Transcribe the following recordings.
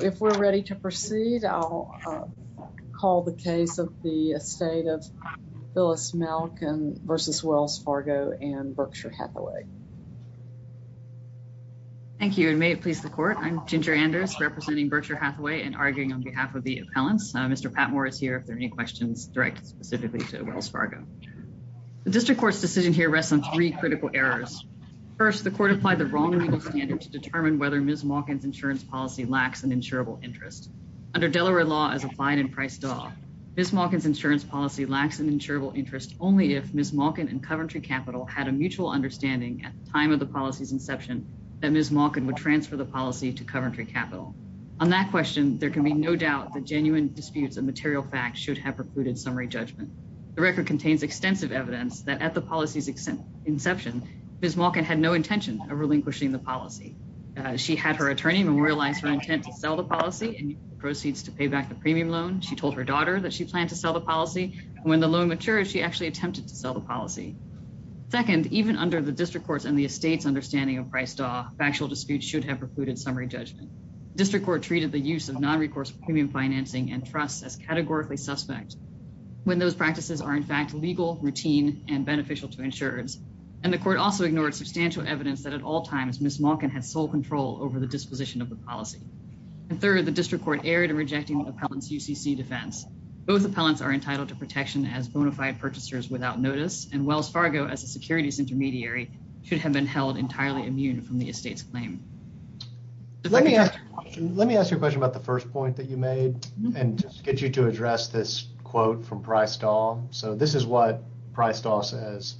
If we're ready to proceed, I'll call the case of the estate of Phyllis Malkin v. Wells Fargo and Berkshire Hathaway. Thank you, and may it please the Court. I'm Ginger Anders, representing Berkshire Hathaway, and arguing on behalf of the appellants. Mr. Patmore is here if there are any questions directed specifically to Wells Fargo. The District Court's decision here rests on three critical errors. First, the Court applied the wrong legal standard to determine whether Ms. Malkin's insurance policy lacks an insurable interest. Under Delaware law as applied in Price-Dawg, Ms. Malkin's insurance policy lacks an insurable interest only if Ms. Malkin and Coventry Capital had a mutual understanding at the time of the policy's inception that Ms. Malkin would transfer the policy to Coventry Capital. On that question, there can be no doubt that genuine disputes of material facts should have precluded summary judgment. The record contains extensive evidence that at the policy's inception, Ms. Malkin had no intention of relinquishing the policy. She had her attorney memorialize her intent to sell the policy and use the proceeds to pay back the premium loan. She told her daughter that she planned to sell the policy, and when the loan matured, she actually attempted to sell the policy. Second, even under the District Court's and the estate's understanding of Price-Dawg, factual disputes should have precluded summary judgment. The District Court treated the use of nonrecourse premium financing and trusts as categorically suspect. When those practices are in fact legal, routine, and beneficial to insurers. And the court also ignored substantial evidence that at all times, Ms. Malkin had sole control over the disposition of the policy. And third, the District Court erred in rejecting the appellant's UCC defense. Both appellants are entitled to protection as bona fide purchasers without notice, and Wells Fargo, as a securities intermediary, should have been held entirely immune from the estate's claim. Let me ask you a question about the first point that you made, and get you to address this quote from Price-Dawg. So this is what Price-Dawg says.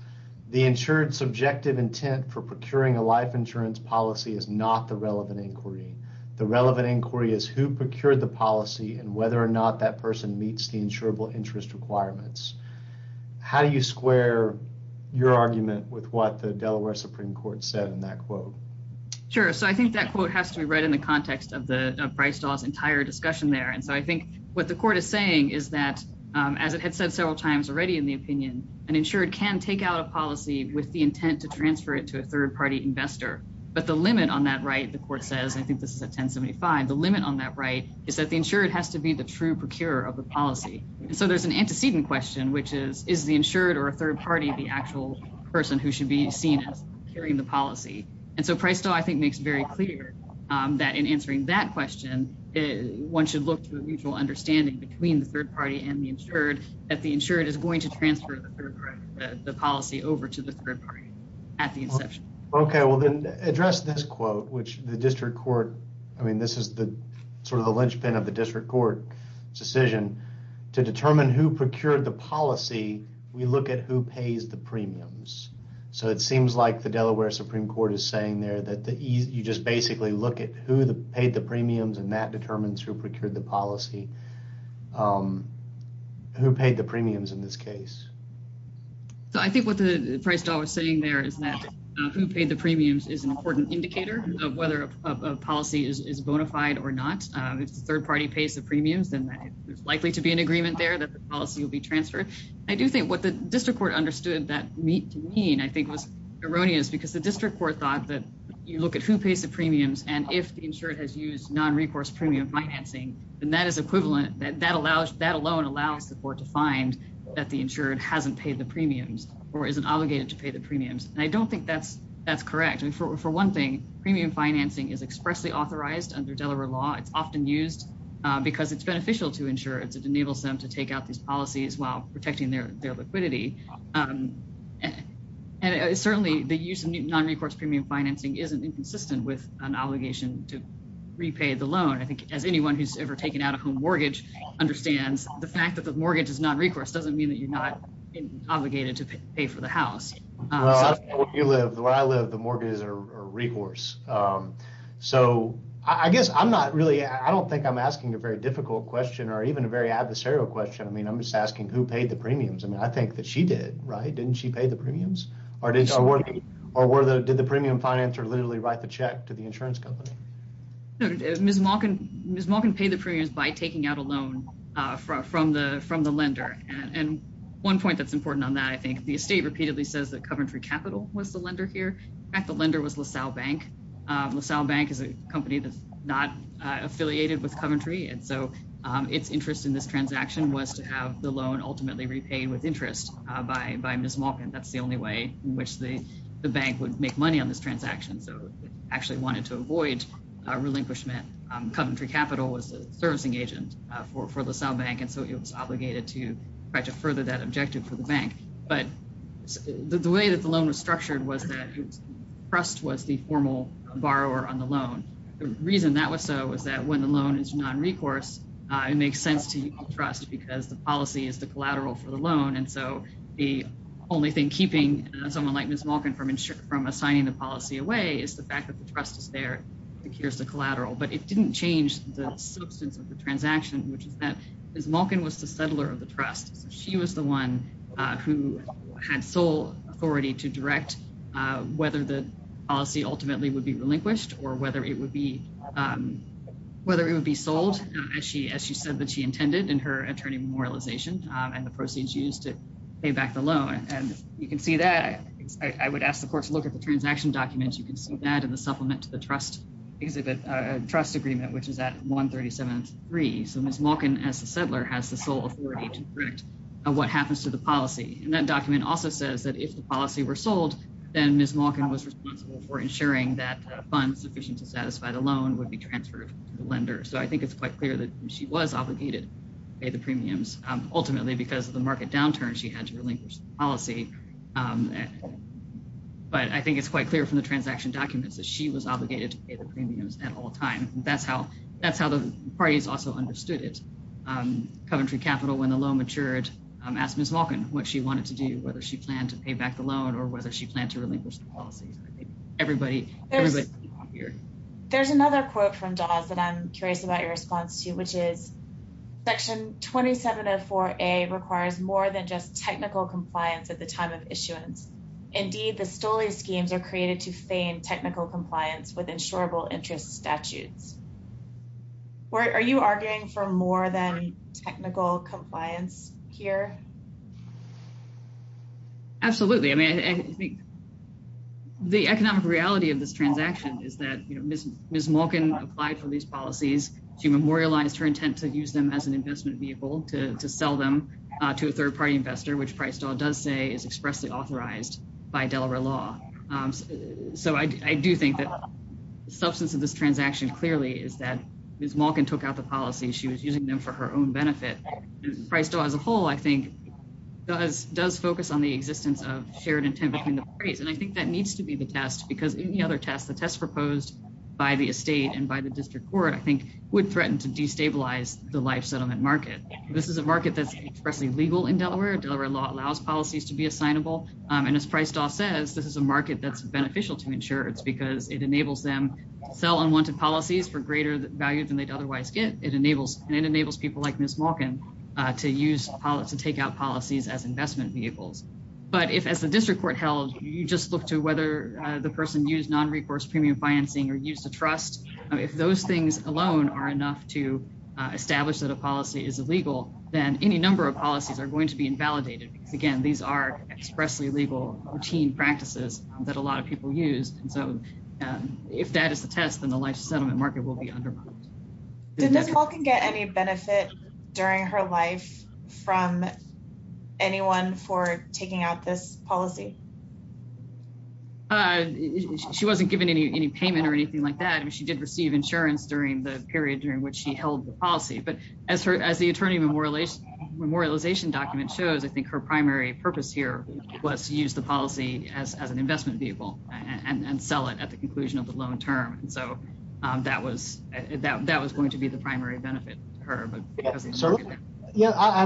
The insured's subjective intent for procuring a life insurance policy is not the relevant inquiry. The relevant inquiry is who procured the policy and whether or not that person meets the insurable interest requirements. How do you square your argument with what the Delaware Supreme Court said in that quote? Sure. So I think that quote has to be read in the context of Price-Dawg's entire discussion there. And so I think what the court is saying is that, as it had said several times already in the opinion, an insured can take out a policy with the intent to transfer it to a third-party investor. But the limit on that right, the court says, I think this is at 1075, the limit on that right is that the insured has to be the true procurer of the policy. And so there's an antecedent question, which is, is the insured or a third party the actual person who should be seen as carrying the policy? And so Price-Dawg, I think, makes very clear that in answering that question, one should look to a mutual understanding between the third party and the insured that the insured is going to transfer the policy over to the third party at the inception. OK, well, then address this quote, which the district court I mean, this is the sort of the linchpin of the district court decision to determine who procured the policy. We look at who pays the premiums. So it seems like the Delaware Supreme Court is saying there that you just basically look at who paid the premiums and that determines who procured the policy. Who paid the premiums in this case? So I think what Price-Dawg was saying there is that who paid the premiums is an important indicator of whether a policy is bona fide or not. If the third party pays the premiums, then there's likely to be an agreement there that the policy will be transferred. I do think what the district court understood that to mean, I think, was erroneous because the district court thought that you look at who pays the premiums. And if the insured has used non-recourse premium financing, then that is equivalent. That that allows that alone allows the court to find that the insured hasn't paid the premiums or isn't obligated to pay the premiums. And I don't think that's that's correct. And for one thing, premium financing is expressly authorized under Delaware law. It's often used because it's beneficial to insurers. It enables them to take out these policies while protecting their their liquidity. And certainly the use of non-recourse premium financing isn't inconsistent with an obligation to repay the loan. I think as anyone who's ever taken out a home mortgage understands the fact that the mortgage is not recourse doesn't mean that you're not obligated to pay for the house. You live where I live, the mortgage or recourse. So I guess I'm not really I don't think I'm asking a very difficult question or even a very adversarial question. I mean, I'm just asking who paid the premiums. I mean, I think that she did. Right. Didn't she pay the premiums or did or were the did the premium financer literally write the check to the insurance company? Ms. Malkin, Ms. Malkin paid the premiums by taking out a loan from the from the lender. And one point that's important on that, I think the state repeatedly says that Coventry Capital was the lender here. The lender was LaSalle Bank. LaSalle Bank is a company that's not affiliated with Coventry. And so its interest in this transaction was to have the loan ultimately repaid with interest by by Ms. Malkin. That's the only way in which the bank would make money on this transaction. So actually wanted to avoid relinquishment. Coventry Capital was a servicing agent for LaSalle Bank. And so it was obligated to try to further that objective for the bank. But the way that the loan was structured was that trust was the formal borrower on the loan. The reason that was so is that when the loan is non-recourse, it makes sense to trust because the policy is the collateral for the loan. And so the only thing keeping someone like Ms. Malkin from from assigning the policy away is the fact that the trust is there. Here's the collateral. But it didn't change the substance of the transaction, which is that Ms. Malkin was the settler of the trust. She was the one who had sole authority to direct whether the policy ultimately would be relinquished or whether it would be whether it would be sold. As she as she said that she intended in her attorney memorialization and the proceeds used to pay back the loan. And you can see that I would ask the court to look at the transaction documents. You can see that in the supplement to the trust exhibit trust agreement, which is at one thirty seven three. So Ms. Malkin, as a settler, has the sole authority to direct what happens to the policy. And that document also says that if the policy were sold, then Ms. Malkin was responsible for ensuring that funds sufficient to satisfy the loan would be transferred to the lender. So I think it's quite clear that she was obligated to pay the premiums ultimately because of the market downturn she had to relinquish policy. But I think it's quite clear from the transaction documents that she was obligated to pay the premiums at all time. And that's how that's how the parties also understood it. Coventry Capital, when the loan matured, asked Ms. Malkin what she wanted to do, whether she planned to pay back the loan or whether she planned to relinquish the policy. Everybody, everybody here. There's another quote from Dawes that I'm curious about your response to, which is section twenty seven of four a requires more than just technical compliance at the time of issuance. Indeed, the stolen schemes are created to feign technical compliance with insurable interest statutes. Are you arguing for more than technical compliance here? Absolutely. I mean, I think. The economic reality of this transaction is that Ms. Ms. Malkin applied for these policies. She memorialized her intent to use them as an investment vehicle to sell them to a third party investor, which Price does say is expressly authorized by Delaware law. So I do think that the substance of this transaction clearly is that Ms. Malkin took out the policy. She was using them for her own benefit. As a whole, I think does does focus on the existence of shared intent between the parties. And I think that needs to be the test, because any other test, the test proposed by the estate and by the district court, I think would threaten to destabilize the life settlement market. This is a market that's expressly legal in Delaware. Delaware law allows policies to be assignable. And as price says, this is a market that's beneficial to insure. It's because it enables them to sell unwanted policies for greater value than they'd otherwise get. It enables and enables people like Ms. Malkin to use to take out policies as investment vehicles. But if as the district court held, you just look to whether the person used non recourse premium financing or used to trust. If those things alone are enough to establish that a policy is illegal, then any number of policies are going to be invalidated. Again, these are expressly legal routine practices that a lot of people use. And so if that is the test, then the life settlement market will be undermined. Did Ms. Malkin get any benefit during her life from anyone for taking out this policy? She wasn't given any payment or anything like that. And she did receive insurance during the period during which she held the policy. But as her as the attorney memorialization memorialization document shows, I think her primary purpose here was to use the policy as an investment vehicle and sell it at the conclusion of the loan term. And so that was that that was going to be the primary benefit to her. Yeah, I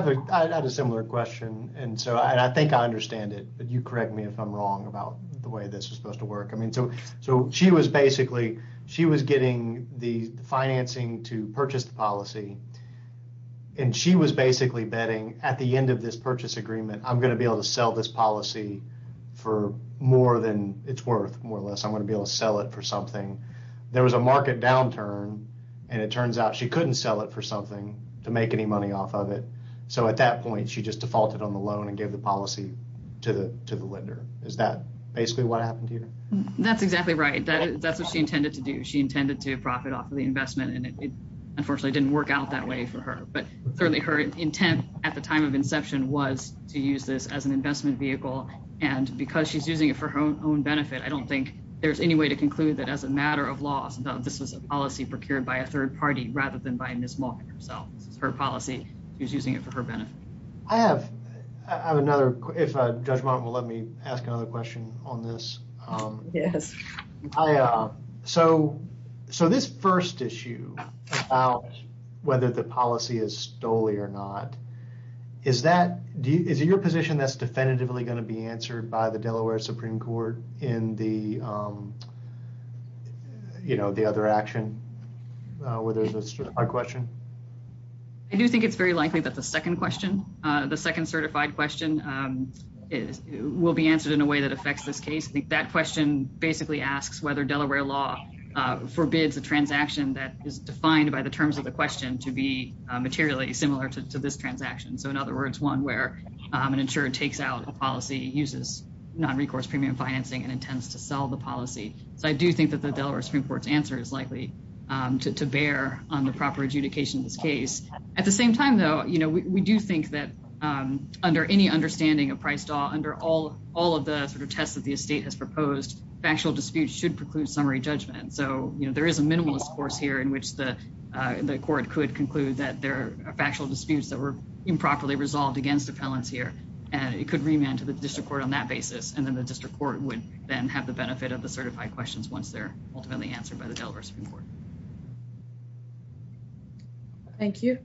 had a similar question. And so I think I understand it. But you correct me if I'm wrong about the way this is supposed to work. I mean, so so she was basically she was getting the financing to purchase the policy. And she was basically betting at the end of this purchase agreement, I'm going to be able to sell this policy for more than it's worth. More or less, I'm going to be able to sell it for something. There was a market downturn and it turns out she couldn't sell it for something to make any money off of it. So at that point, she just defaulted on the loan and gave the policy to the to the lender. Is that basically what happened here? That's exactly right. That's what she intended to do. She intended to profit off of the investment. And it unfortunately didn't work out that way for her. But certainly her intent at the time of inception was to use this as an investment vehicle. And because she's using it for her own benefit, I don't think there's any way to conclude that as a matter of law. So this was a policy procured by a third party rather than by Ms. Malkin herself. This is her policy. She's using it for her benefit. I have another. If Judge Martin will let me ask another question on this. Yes. So. So this first issue about whether the policy is stolen or not. Is that your position that's definitively going to be answered by the Delaware Supreme Court in the. You know, the other action where there's a question. I do think it's very likely that the second question, the second certified question is will be answered in a way that affects this case. I think that question basically asks whether Delaware law forbids a transaction that is defined by the terms of the question to be materially similar to this transaction. So, in other words, one where an insurer takes out a policy uses non recourse premium financing and intends to sell the policy. So I do think that the Delaware Supreme Court's answer is likely to bear on the proper adjudication of this case. At the same time, though, you know, we do think that under any understanding of price under all all of the sort of tests that the state has proposed, factual disputes should preclude summary judgment. So, you know, there is a minimalist course here in which the court could conclude that there are factual disputes that were improperly resolved against the balance here. And it could remain to the district court on that basis. And then the district court would then have the benefit of the certified questions once they're ultimately answered by the Delaware Supreme Court. Thank you.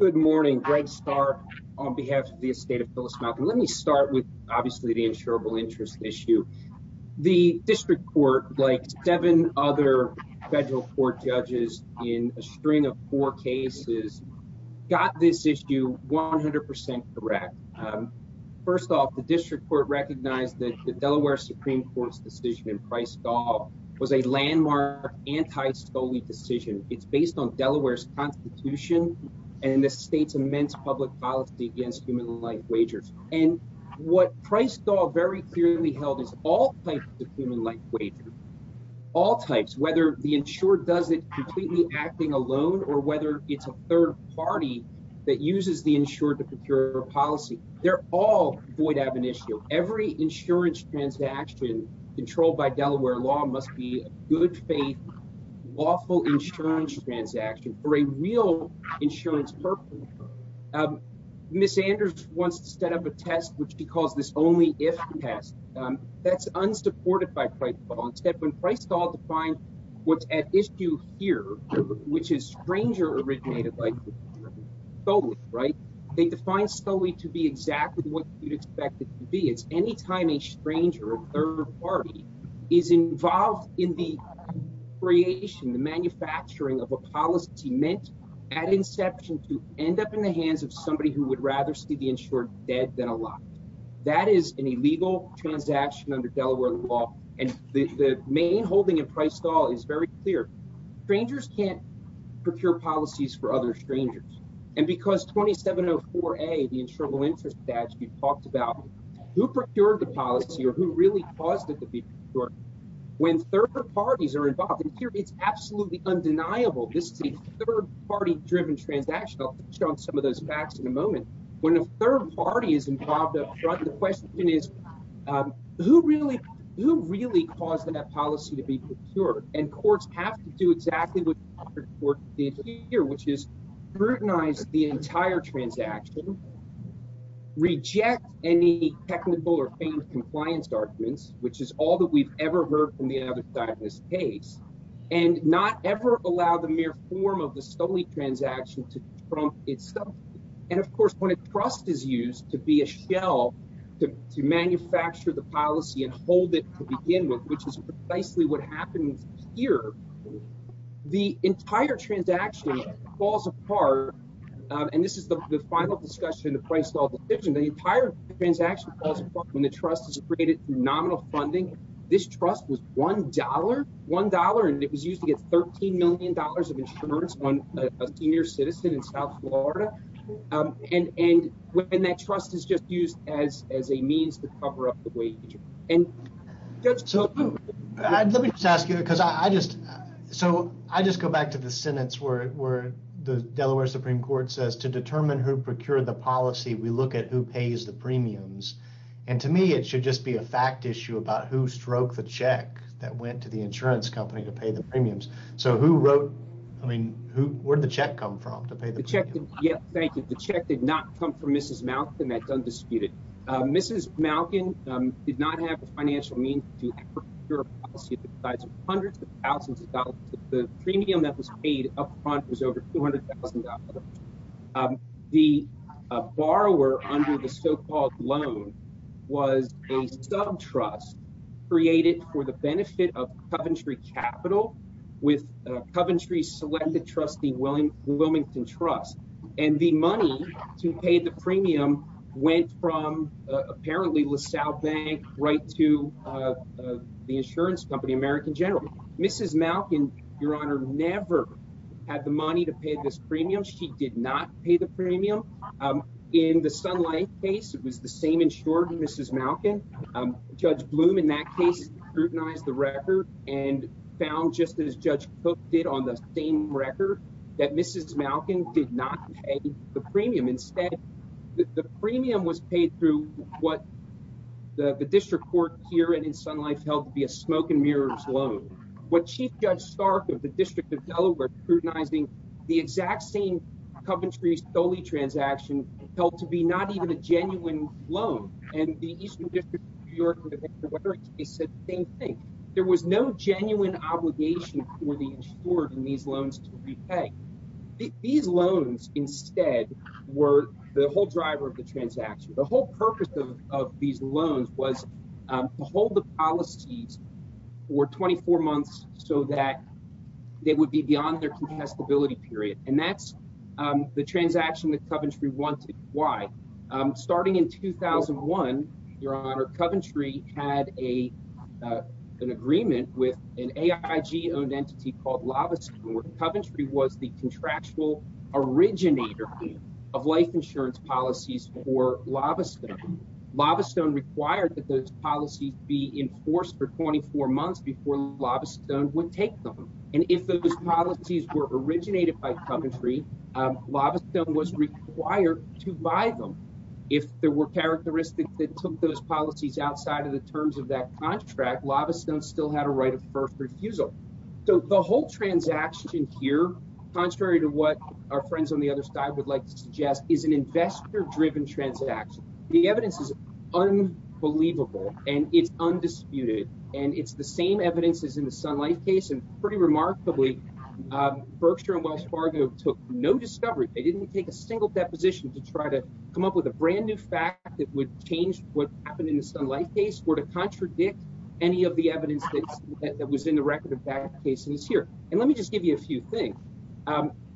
Good morning, Greg Star on behalf of the estate of Phyllis Malcolm. Let me start with obviously the insurable interest issue. The district court, like seven other federal court judges in a string of four cases, got this issue 100% correct. First off, the district court recognized that the Delaware Supreme Court's decision in price doll was a landmark anti solely decision. It's based on Delaware's constitution and the state's immense public policy against human life wagers. And what price doll very clearly held is all types of human life wages, all types, whether the insured does it completely acting alone or whether it's a third party that uses the insured to procure policy. They're all void ab initio every insurance transaction controlled by Delaware law must be good faith, lawful insurance transaction for a real insurance purpose. Miss Anders wants to set up a test, which she calls this only if test that's unsupported by price. It's a step in the hands of somebody who would rather see the insured dead than alive. That is an illegal transaction under Delaware law. And the main holding of price doll is very clear. Strangers can't procure policies for other strangers. And because 2704 a the insurable interest statute talked about who procured the policy or who really caused it to be when third parties are involved in here, it's absolutely undeniable. This is a third party driven transaction. I'll show some of those facts in a moment when a third party is involved. The question is, who really who really caused that policy to be procured? And courts have to do exactly what you're here, which is scrutinize the entire transaction. Reject any technical or compliance arguments, which is all that we've ever heard from the other side of this case, and not ever allow the mere form of the solely transaction to itself. And, of course, when a trust is used to be a shell to manufacture the policy and hold it to begin with, which is precisely what happens here, the entire transaction falls apart. And this is the final discussion, the price of the entire transaction when the trust is created nominal funding. This trust was $1, $1, and it was used to get $13 million of insurance on a senior citizen in South Florida. And when that trust is just used as as a means to cover up the wage. So let me just ask you, because I just so I just go back to the sentence where the Delaware Supreme Court says to determine who procured the policy, we look at who pays the premiums. And to me, it should just be a fact issue about who stroke the check that went to the insurance company to pay the premiums. So who wrote I mean, who or the check come from to pay the check? Yes, thank you. The check did not come from Mrs. Mouth and that's undisputed. Mrs. Malkin did not have a financial means to your side's hundreds of thousands of dollars. The premium that was paid up front was over $200,000. The borrower under the so-called loan was a sub trust created for the benefit of Coventry Capital with Coventry selected trustee willing Wilmington Trust. And the money to pay the premium went from apparently LaSalle Bank right to the insurance company, American General. Mrs. Malkin, your honor, never had the money to pay this premium. She did not pay the premium in the sunlight case. It was the same insured Mrs. Malkin. Judge Bloom, in that case, scrutinized the record and found just as Judge Cook did on the same record that Mrs. Malkin did not pay the premium. Instead, the premium was paid through what the district court here and in Sun Life helped be a smoke and mirrors loan. What Chief Judge Stark of the District of Delaware scrutinizing the exact same Coventry solely transaction held to be not even a genuine loan. And the Eastern District of New York said the same thing. There was no genuine obligation for the insured in these loans to repay. These loans instead were the whole driver of the transaction. The whole purpose of these loans was to hold the policies for 24 months so that they would be beyond their contestability period. And that's the transaction that Coventry wanted. Why? Starting in 2001, your honor, Coventry had a an agreement with an A.I.G. Owned entity called Lava. Coventry was the contractual originator of life insurance policies for Lava Stone. Lava Stone required that those policies be enforced for 24 months before Lava Stone would take them. And if those policies were originated by Coventry, Lava Stone was required to buy them. If there were characteristics that took those policies outside of the terms of that contract, Lava Stone still had a right of first refusal. So the whole transaction here, contrary to what our friends on the other side would like to suggest, is an investor driven transaction. The evidence is unbelievable and it's undisputed and it's the same evidence as in the Sun Life case. And pretty remarkably, Berkshire and Wells Fargo took no discovery. They didn't take a single deposition to try to come up with a brand new fact that would change what happened in the Sun Life case. Or to contradict any of the evidence that was in the record of bad cases here. And let me just give you a few things.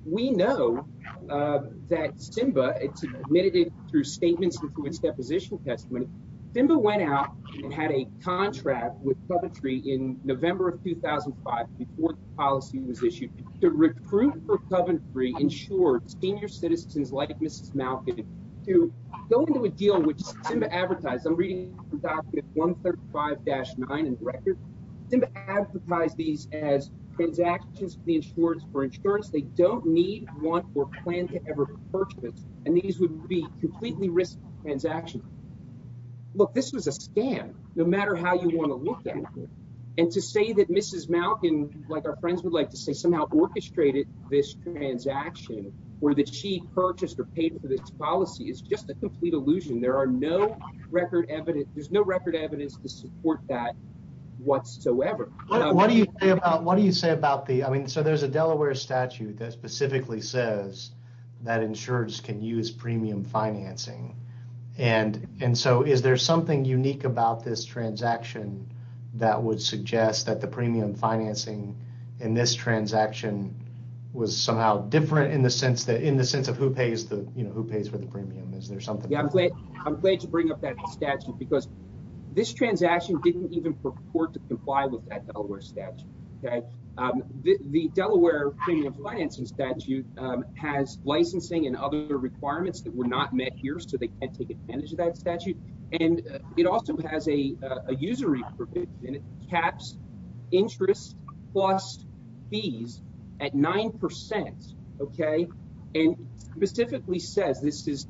We know that Simba admitted it through statements and through its deposition testimony. Simba went out and had a contract with Coventry in November of 2005 before the policy was issued to recruit for Coventry, ensure senior citizens like Mrs. Malkin to go into a deal which Simba advertised. I'm reading from document 135-9 in the record. Simba advertised these as transactions for insurance. They don't need, want, or plan to ever purchase. And these would be completely risky transactions. Look, this was a scam, no matter how you want to look at it. And to say that Mrs. Malkin, like our friends would like to say, somehow orchestrated this transaction or that she purchased or paid for this policy is just a complete illusion. There are no record evidence, there's no record evidence to support that whatsoever. What do you say about, what do you say about the, I mean, so there's a Delaware statute that specifically says that insurers can use premium financing. And, and so is there something unique about this transaction that would suggest that the premium financing in this transaction was somehow different in the sense that, in the sense of who pays the, you know, who pays for the premium? I'm glad to bring up that statute because this transaction didn't even purport to comply with that Delaware statute. The Delaware premium financing statute has licensing and other requirements that were not met here so they can't take advantage of that statute. And it also has a usury provision. It caps interest plus fees at 9%, okay? And specifically says, this is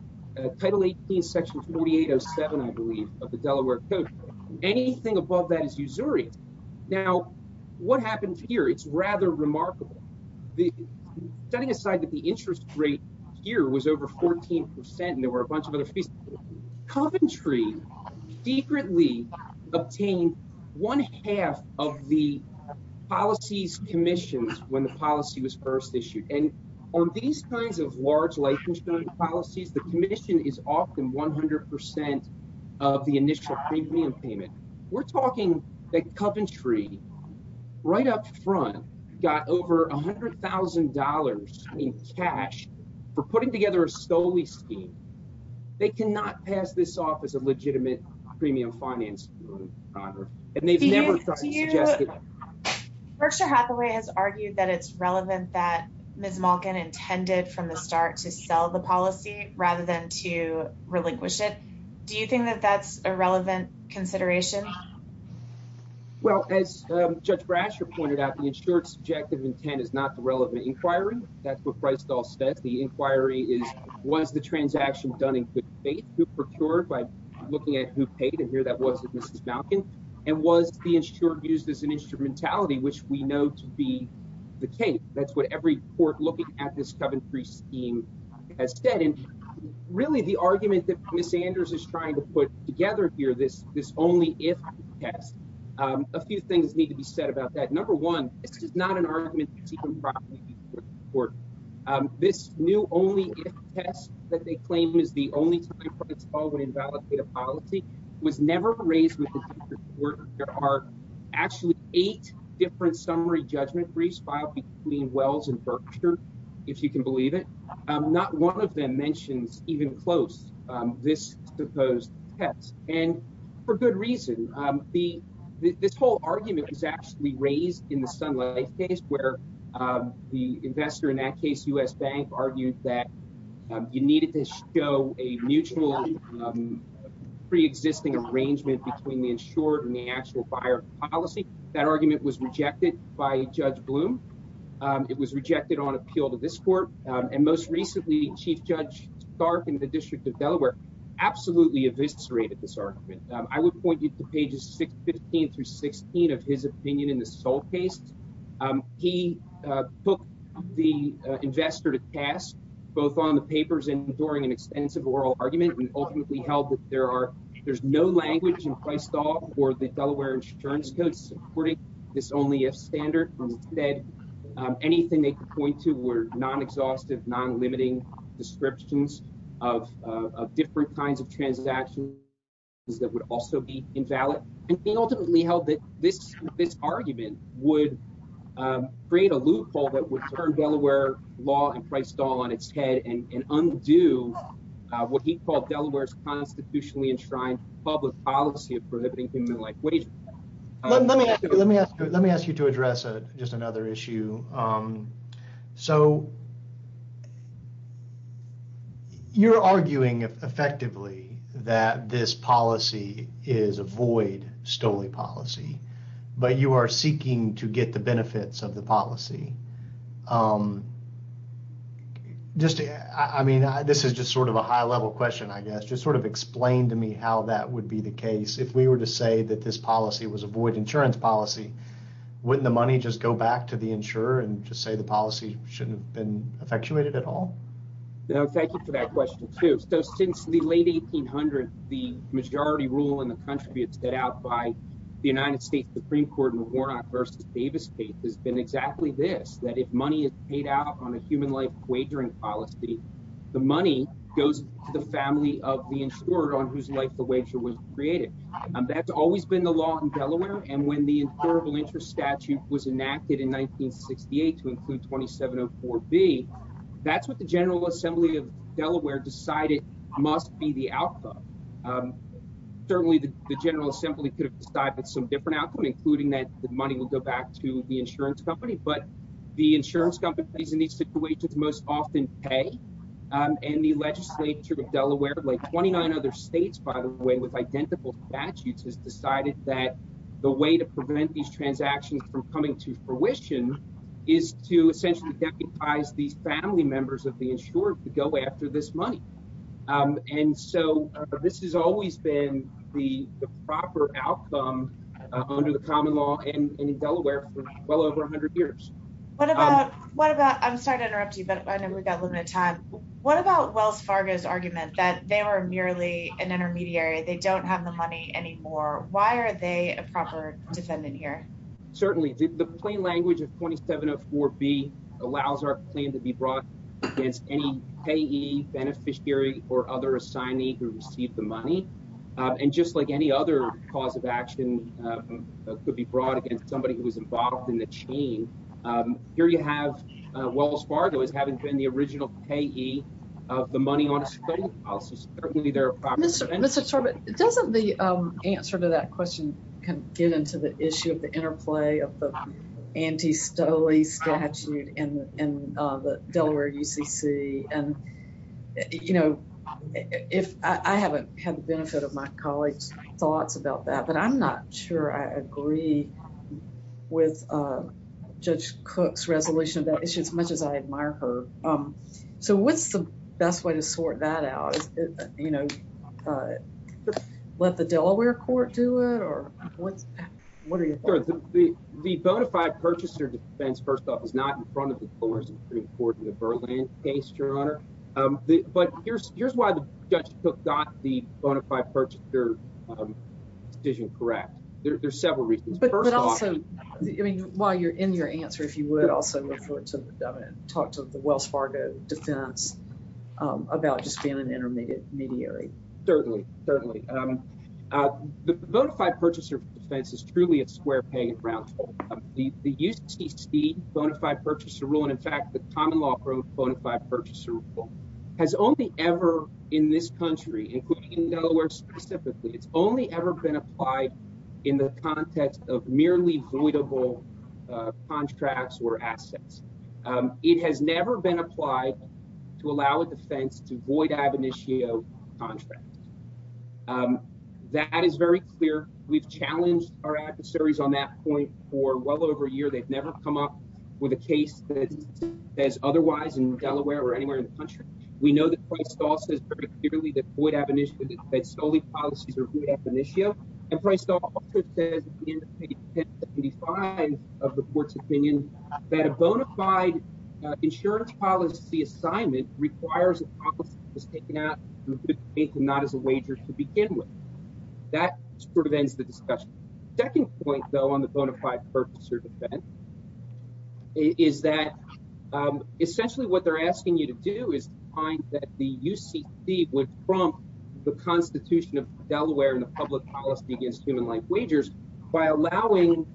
Title 18, Section 2807, I believe, of the Delaware Code. Anything above that is usury. Now, what happens here, it's rather remarkable. Setting aside that the interest rate here was over 14% and there were a bunch of other fees, Coventry secretly obtained one half of the policy's commissions when the policy was first issued. And on these kinds of large licensing policies, the commission is often 100% of the initial premium payment. We're talking that Coventry, right up front, got over $100,000 in cash for putting together a stole-y scheme. They cannot pass this off as a legitimate premium financing, Your Honor. And they've never tried to suggest it. Berkshire Hathaway has argued that it's relevant that Ms. Malkin intended from the start to sell the policy rather than to relinquish it. Do you think that that's a relevant consideration? Well, as Judge Brasher pointed out, the insured's subjective intent is not the relevant inquiry. That's what Freistahl said. The inquiry is, was the transaction done in good faith? Who procured by looking at who paid? And here that was Mrs. Malkin. And was the insured used as an instrumentality, which we know to be the case? That's what every court looking at this Coventry scheme has said. And really the argument that Ms. Anders is trying to put together here, this only if test, a few things need to be said about that. Number one, this is not an argument that's even brought to the Supreme Court. This new only if test that they claim is the only time Freistahl would invalidate a policy was never raised with the Supreme Court. There are actually eight different summary judgment briefs filed between Wells and Berkshire, if you can believe it. Not one of them mentions even close this supposed test. And for good reason, the this whole argument is actually raised in the Sun Life case where the investor in that case, U.S. Bank, argued that you needed to show a mutual preexisting arrangement between the insured and the actual buyer policy. That argument was rejected by Judge Bloom. It was rejected on appeal to this court. And most recently, Chief Judge Stark in the District of Delaware absolutely eviscerated this argument. I would point you to pages six, 15 through 16 of his opinion in the sole case. He took the investor to task both on the papers and during an extensive oral argument. And ultimately held that there are there's no language in Christoff or the Delaware insurance codes supporting this only if standard. Anything they point to were non-exhaustive, non-limiting descriptions of different kinds of transactions that would also be invalid. And he ultimately held that this this argument would create a loophole that would turn Delaware law and price stall on its head and undo what he called Delaware's constitutionally enshrined public policy of prohibiting human life. Let me let me let me ask you to address just another issue. So. You're arguing effectively that this policy is a void stoley policy, but you are seeking to get the benefits of the policy. Just I mean, this is just sort of a high level question, I guess. Just sort of explain to me how that would be the case if we were to say that this policy was avoid insurance policy. Wouldn't the money just go back to the insurer and just say the policy shouldn't have been effectuated at all? Thank you for that question, too. So since the late 1800s, the majority rule in the country, it's set out by the United States Supreme Court in Warnock versus Davis case has been exactly this, that if money is paid out on a human life wagering policy, the money goes to the family of the insurer on whose life the wager was created. That's always been the law in Delaware. And when the incurable interest statute was enacted in 1968 to include twenty seven or four B, that's what the General Assembly of Delaware decided must be the outcome. Certainly, the General Assembly could have decided some different outcome, including that the money will go back to the insurance company. But the insurance companies in these situations most often pay. And the legislature of Delaware, like twenty nine other states, by the way, with identical statutes, has decided that the way to prevent these transactions from coming to fruition is to essentially deputize these family members of the insured to go after this money. And so this has always been the proper outcome under the common law and in Delaware for well over 100 years. What about what about I'm sorry to interrupt you, but I know we've got limited time. What about Wells Fargo's argument that they were merely an intermediary? They don't have the money anymore. Why are they a proper defendant here? Certainly, the plain language of twenty seven or four B allows our claim to be brought against any payee, beneficiary or other assignee who received the money. And just like any other cause of action could be brought against somebody who was involved in the chain. Here you have Wells Fargo as having been the original payee of the money on a certain policy. Mr. Mr. Sorbet, doesn't the answer to that question can get into the issue of the interplay of the anti-Stoley statute and the Delaware UCC? And, you know, if I haven't had the benefit of my colleagues thoughts about that, but I'm not sure I agree with Judge Cook's resolution of that issue as much as I admire her. So what's the best way to sort that out? You know, let the Delaware court do it or what? What are you doing? The bonafide purchaser defense, first off, is not in front of the court in the Berlin case, Your Honor. But here's here's why the judge got the bonafide purchaser decision correct. There's several reasons. But also, I mean, while you're in your answer, if you would also refer to talk to the Wells Fargo defense about just being an intermediate intermediary. Certainly, certainly. The bonafide purchaser defense is truly a square page round. The UCC bonafide purchaser rule, and in fact, the common law bonafide purchaser rule has only ever in this country, including Delaware specifically, it's only ever been applied in the context of merely voidable contracts or assets. It has never been applied to allow a defense to void ab initio contract. That is very clear. We've challenged our adversaries on that point for well over a year. They've never come up with a case that is otherwise in Delaware or anywhere in the country. We know that Christ also says very clearly that void ab initio, that solely policies are void ab initio, and Christ also says in the 1075 of the court's opinion that a bonafide insurance policy assignment requires a policy that is taken out through good faith and not as a wager to begin with. That sort of ends the discussion. Second point, though, on the bonafide purchaser defense is that essentially what they're asking you to do is find that the UCC would prompt the Constitution of Delaware and the public policy against human life wagers by allowing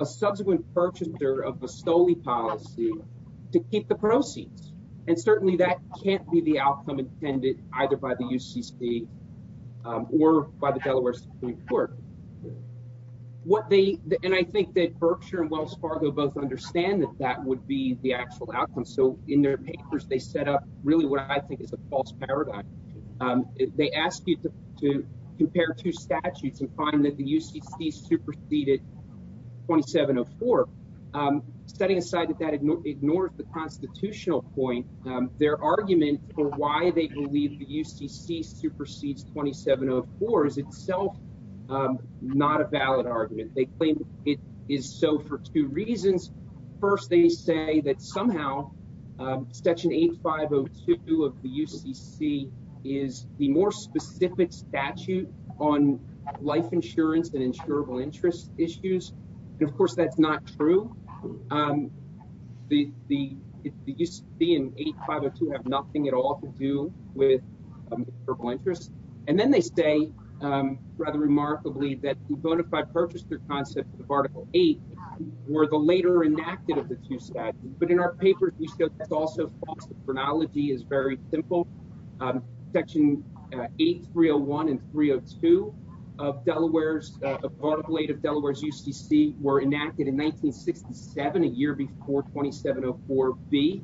a subsequent purchaser of a solely policy to keep the proceeds. And certainly that can't be the outcome intended either by the UCC or by the Delaware Supreme Court. And I think that Berkshire and Wells Fargo both understand that that would be the actual outcome. So in their papers, they set up really what I think is a false paradigm. They ask you to compare two statutes and find that the UCC superseded 2704. Setting aside that that ignores the constitutional point, their argument for why they believe the UCC supersedes 2704 is itself not a valid argument. They claim it is so for two reasons. First, they say that somehow Section 8502 of the UCC is the more specific statute on life insurance and insurable interest issues. And of course, that's not true. The UCC and 8502 have nothing at all to do with insurable interest. And then they say, rather remarkably, that the bona fide purchaser concept of Article 8 were the later enacted of the two statutes. But in our papers, we show that's also false. The chronology is very simple. Section 8301 and 302 of the Article 8 of Delaware's UCC were enacted in 1967, a year before 2704B.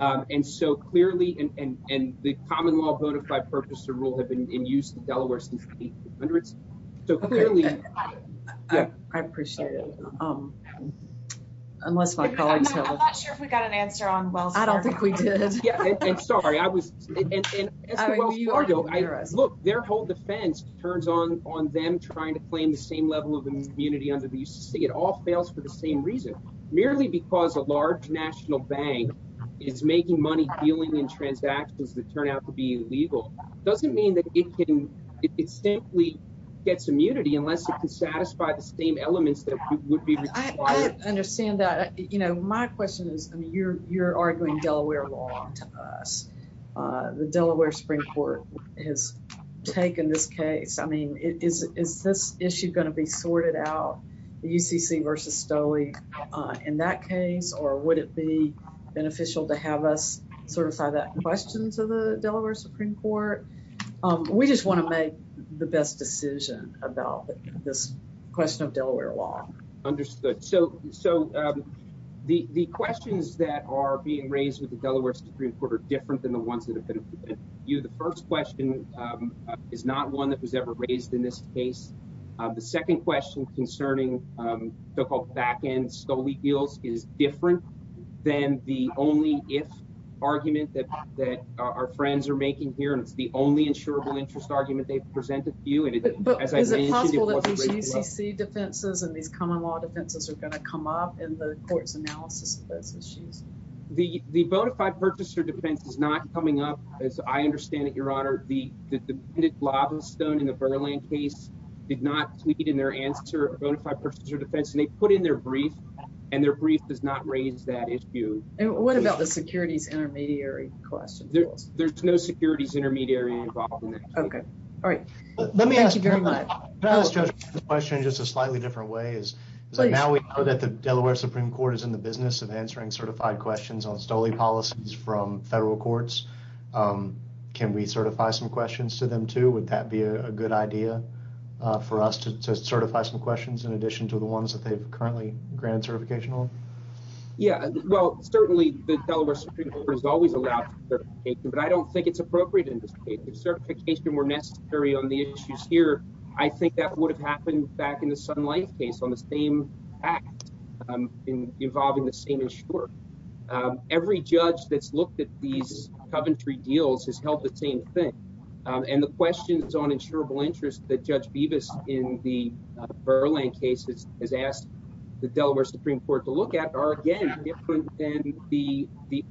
And so clearly, and the common law bona fide purchaser rule had been in use in Delaware since the 1800s. So clearly, yeah. I appreciate it. Unless my colleagues have a- I'm not sure if we got an answer on Wells Fargo. I don't think we did. Yeah, I'm sorry. I was- As for Wells Fargo, look, their whole defense turns on them trying to claim the same level of immunity under the UCC. It all fails for the same reason. Merely because a large national bank is making money dealing in transactions that turn out to be illegal doesn't mean that it can- It simply gets immunity unless it can satisfy the same elements that would be required. I understand that. You know, my question is, I mean, you're arguing Delaware law to us. The Delaware Supreme Court has taken this case. I mean, is this issue going to be sorted out? The UCC versus Stoey in that case? Or would it be beneficial to have us certify that question to the Delaware Supreme Court? We just want to make the best decision about this question of Delaware law. Understood. So the questions that are being raised with the Delaware Supreme Court are different than the ones that have been- The first question is not one that was ever raised in this case. The second question concerning so-called back-end Stoey deals is different than the only if argument that our friends are making here. And it's the only insurable interest argument they've presented to you. But is it possible that these UCC defenses and these common law defenses are going to come up in the court's analysis of those issues? The Vodafone purchaser defense is not coming up, as I understand it, Your Honor. The Lavastone in the Burland case did not tweet in their answer a Vodafone purchaser defense. And they put in their brief, and their brief does not raise that issue. And what about the securities intermediary question? There's no securities intermediary involved in that. Okay. All right. Thank you very much. Can I ask, Judge, this question in just a slightly different way? Now we know that the Delaware Supreme Court is in the business of answering certified questions on Stoey policies from federal courts. Can we certify some questions to them, too? Would that be a good idea for us to certify some questions in addition to the ones that they've currently granted certification on? Yeah. Well, certainly, the Delaware Supreme Court has always allowed certification. But I don't think it's appropriate in this case. If certification were necessary on the issues here, I think that would have happened back in the Sun Life case on the same act involving the same insurer. Every judge that's looked at these coventry deals has held the same thing. And the questions on insurable interest that Judge Bevis in the Burland case has asked the Delaware Supreme Court to look at are, again, different than the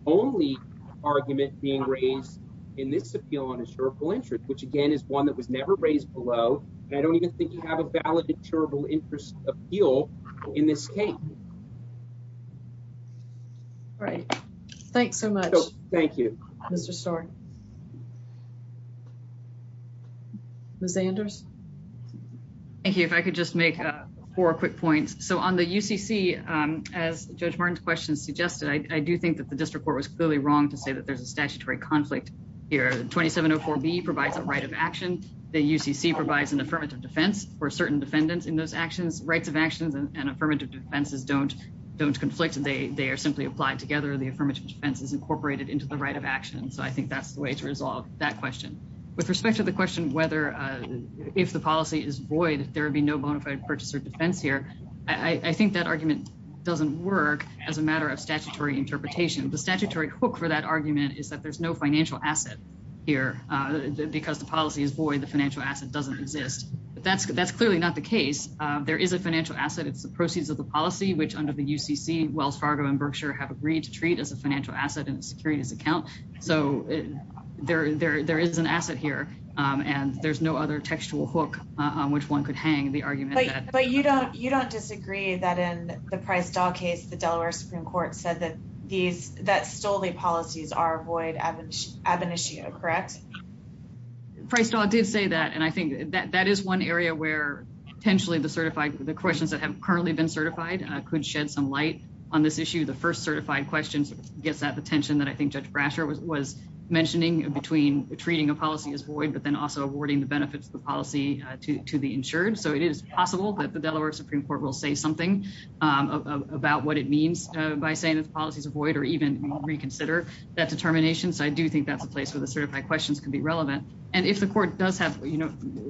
only argument being raised in this appeal on insurable interest, which, again, is one that was never raised below. And I don't even think you have a valid insurable interest appeal in this case. All right. Thanks so much. Thank you, Mr. Starr. Ms. Anders. Thank you. If I could just make four quick points. So on the UCC, as Judge Martin's question suggested, I do think that the district court was clearly wrong to say that there's a statutory conflict here. The 2704B provides a right of action. The UCC provides an affirmative defense for certain defendants in those actions. Rights of actions and affirmative defenses don't conflict. They are simply applied together. The affirmative defense is incorporated into the right of action. So I think that's the way to resolve that question. With respect to the question whether if the policy is void, there would be no bona fide purchase or defense here, I think that argument doesn't work as a matter of statutory interpretation. The statutory hook for that argument is that there's no financial asset here. Because the policy is void, the financial asset doesn't exist. That's clearly not the case. There is a financial asset. It's the proceeds of the policy, which under the UCC, Wells Fargo and Berkshire have agreed to treat as a financial asset in a securities account. So there is an asset here and there's no other textual hook on which one could hang the argument. But you don't you don't disagree that in the Price-Daw case, the Delaware Supreme Court said that these that stole the policies are void ab initio, correct? Price-Daw did say that, and I think that that is one area where potentially the questions that have currently been certified could shed some light on this issue. The first certified question gets at the tension that I think Judge Brasher was mentioning between treating a policy as void, but then also awarding the benefits of the policy to the insured. So it is possible that the Delaware Supreme Court will say something about what it means by saying that the policies are void or even reconsider that determination. So I do think that's a place where the certified questions can be relevant. And if the court does have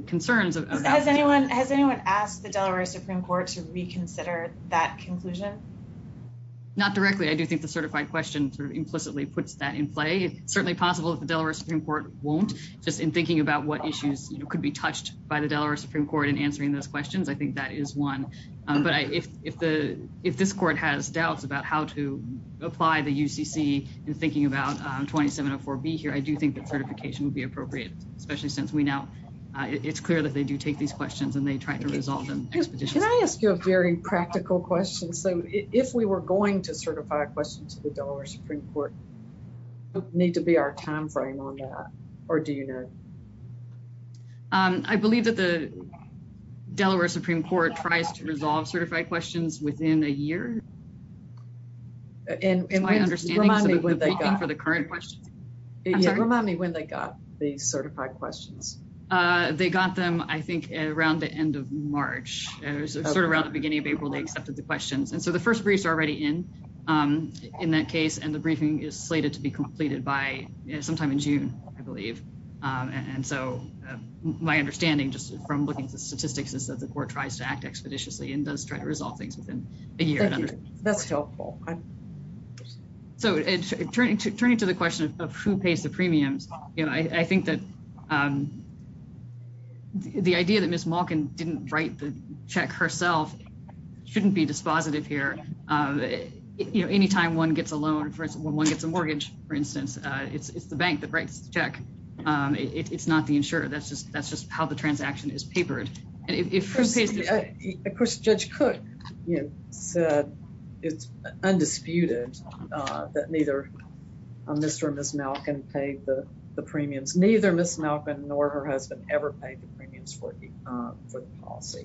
concerns about. Has anyone has anyone asked the Delaware Supreme Court to reconsider that conclusion? Not directly. I do think the certified question implicitly puts that in play. It's certainly possible that the Delaware Supreme Court won't just in thinking about what issues could be touched by the Delaware Supreme Court in answering those questions. I think that is one. But if if the if this court has doubts about how to apply the UCC and thinking about 2704B here, I do think that certification would be appropriate, especially since we now it's clear that they do take these questions and they try to resolve them expeditiously. Can I ask you a very practical question? So if we were going to certify a question to the Delaware Supreme Court. Need to be our time frame on that. Or do you know? I believe that the Delaware Supreme Court tries to resolve certified questions within a year. And in my understanding for the current question, remind me when they got the certified questions. They got them, I think, around the end of March, sort of around the beginning of April, they accepted the questions. And so the first briefs are already in in that case. And the briefing is slated to be completed by sometime in June, I believe. And so my understanding just from looking at the statistics is that the court tries to act expeditiously and does try to resolve things within a year. That's helpful. So turning to turning to the question of who pays the premiums. You know, I think that the idea that Miss Malkin didn't write the check herself shouldn't be dispositive here. You know, any time one gets a loan, for instance, when one gets a mortgage, for instance, it's the bank that writes the check. It's not the insurer. That's just that's just how the transaction is papered. Of course, Judge Cook said it's undisputed that neither Mr. or Miss Malkin paid the premiums. Neither Miss Malkin nor her husband ever paid the premiums for the policy.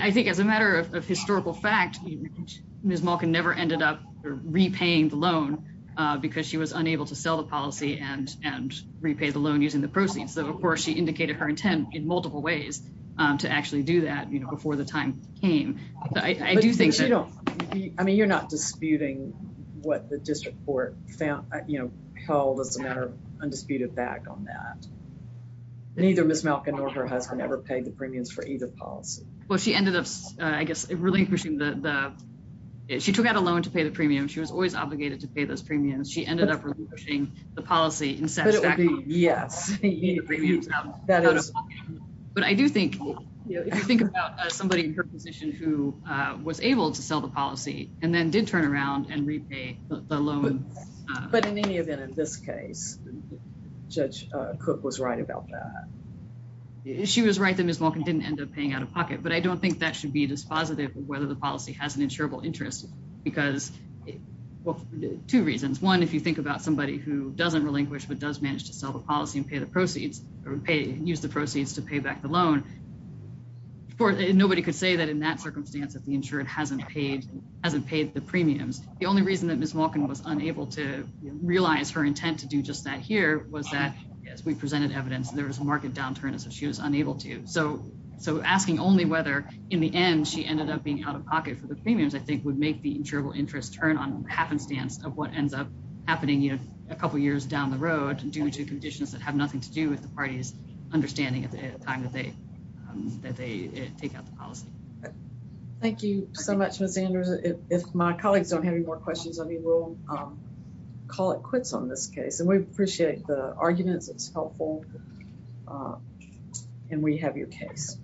I think as a matter of historical fact, Miss Malkin never ended up repaying the loan because she was unable to sell the policy and and repay the loan using the proceeds. So, of course, she indicated her intent in multiple ways to actually do that before the time came. I do think, you know, I mean, you're not disputing what the district court found, you know, called as a matter of undisputed back on that. Neither Miss Malkin or her husband ever paid the premiums for either policy. Well, she ended up, I guess, relinquishing the she took out a loan to pay the premium. She was always obligated to pay those premiums. She ended up pushing the policy. Yes. But I do think you think about somebody in her position who was able to sell the policy and then did turn around and repay the loan. But in any event, in this case, Judge Cook was right about that. She was right that Miss Malkin didn't end up paying out of pocket. But I don't think that should be dispositive of whether the policy has an insurable interest. Because, well, two reasons. One, if you think about somebody who doesn't relinquish, but does manage to sell the policy and pay the proceeds or pay, use the proceeds to pay back the loan. For nobody could say that in that circumstance that the insured hasn't paid hasn't paid the premiums. The only reason that Miss Malkin was unable to realize her intent to do just that here was that we presented evidence. There was a market downturn. So she was unable to. So so asking only whether in the end she ended up being out of pocket for the premiums, I think, would make the interval interest turn on happenstance of what ends up happening a couple of years down the road due to conditions that have nothing to do with the party's understanding at the time that they that they take out the policy. Thank you so much, Miss Andrews. If my colleagues don't have any more questions, I mean, we'll call it quits on this case. We appreciate the arguments. It's helpful. And we have your case.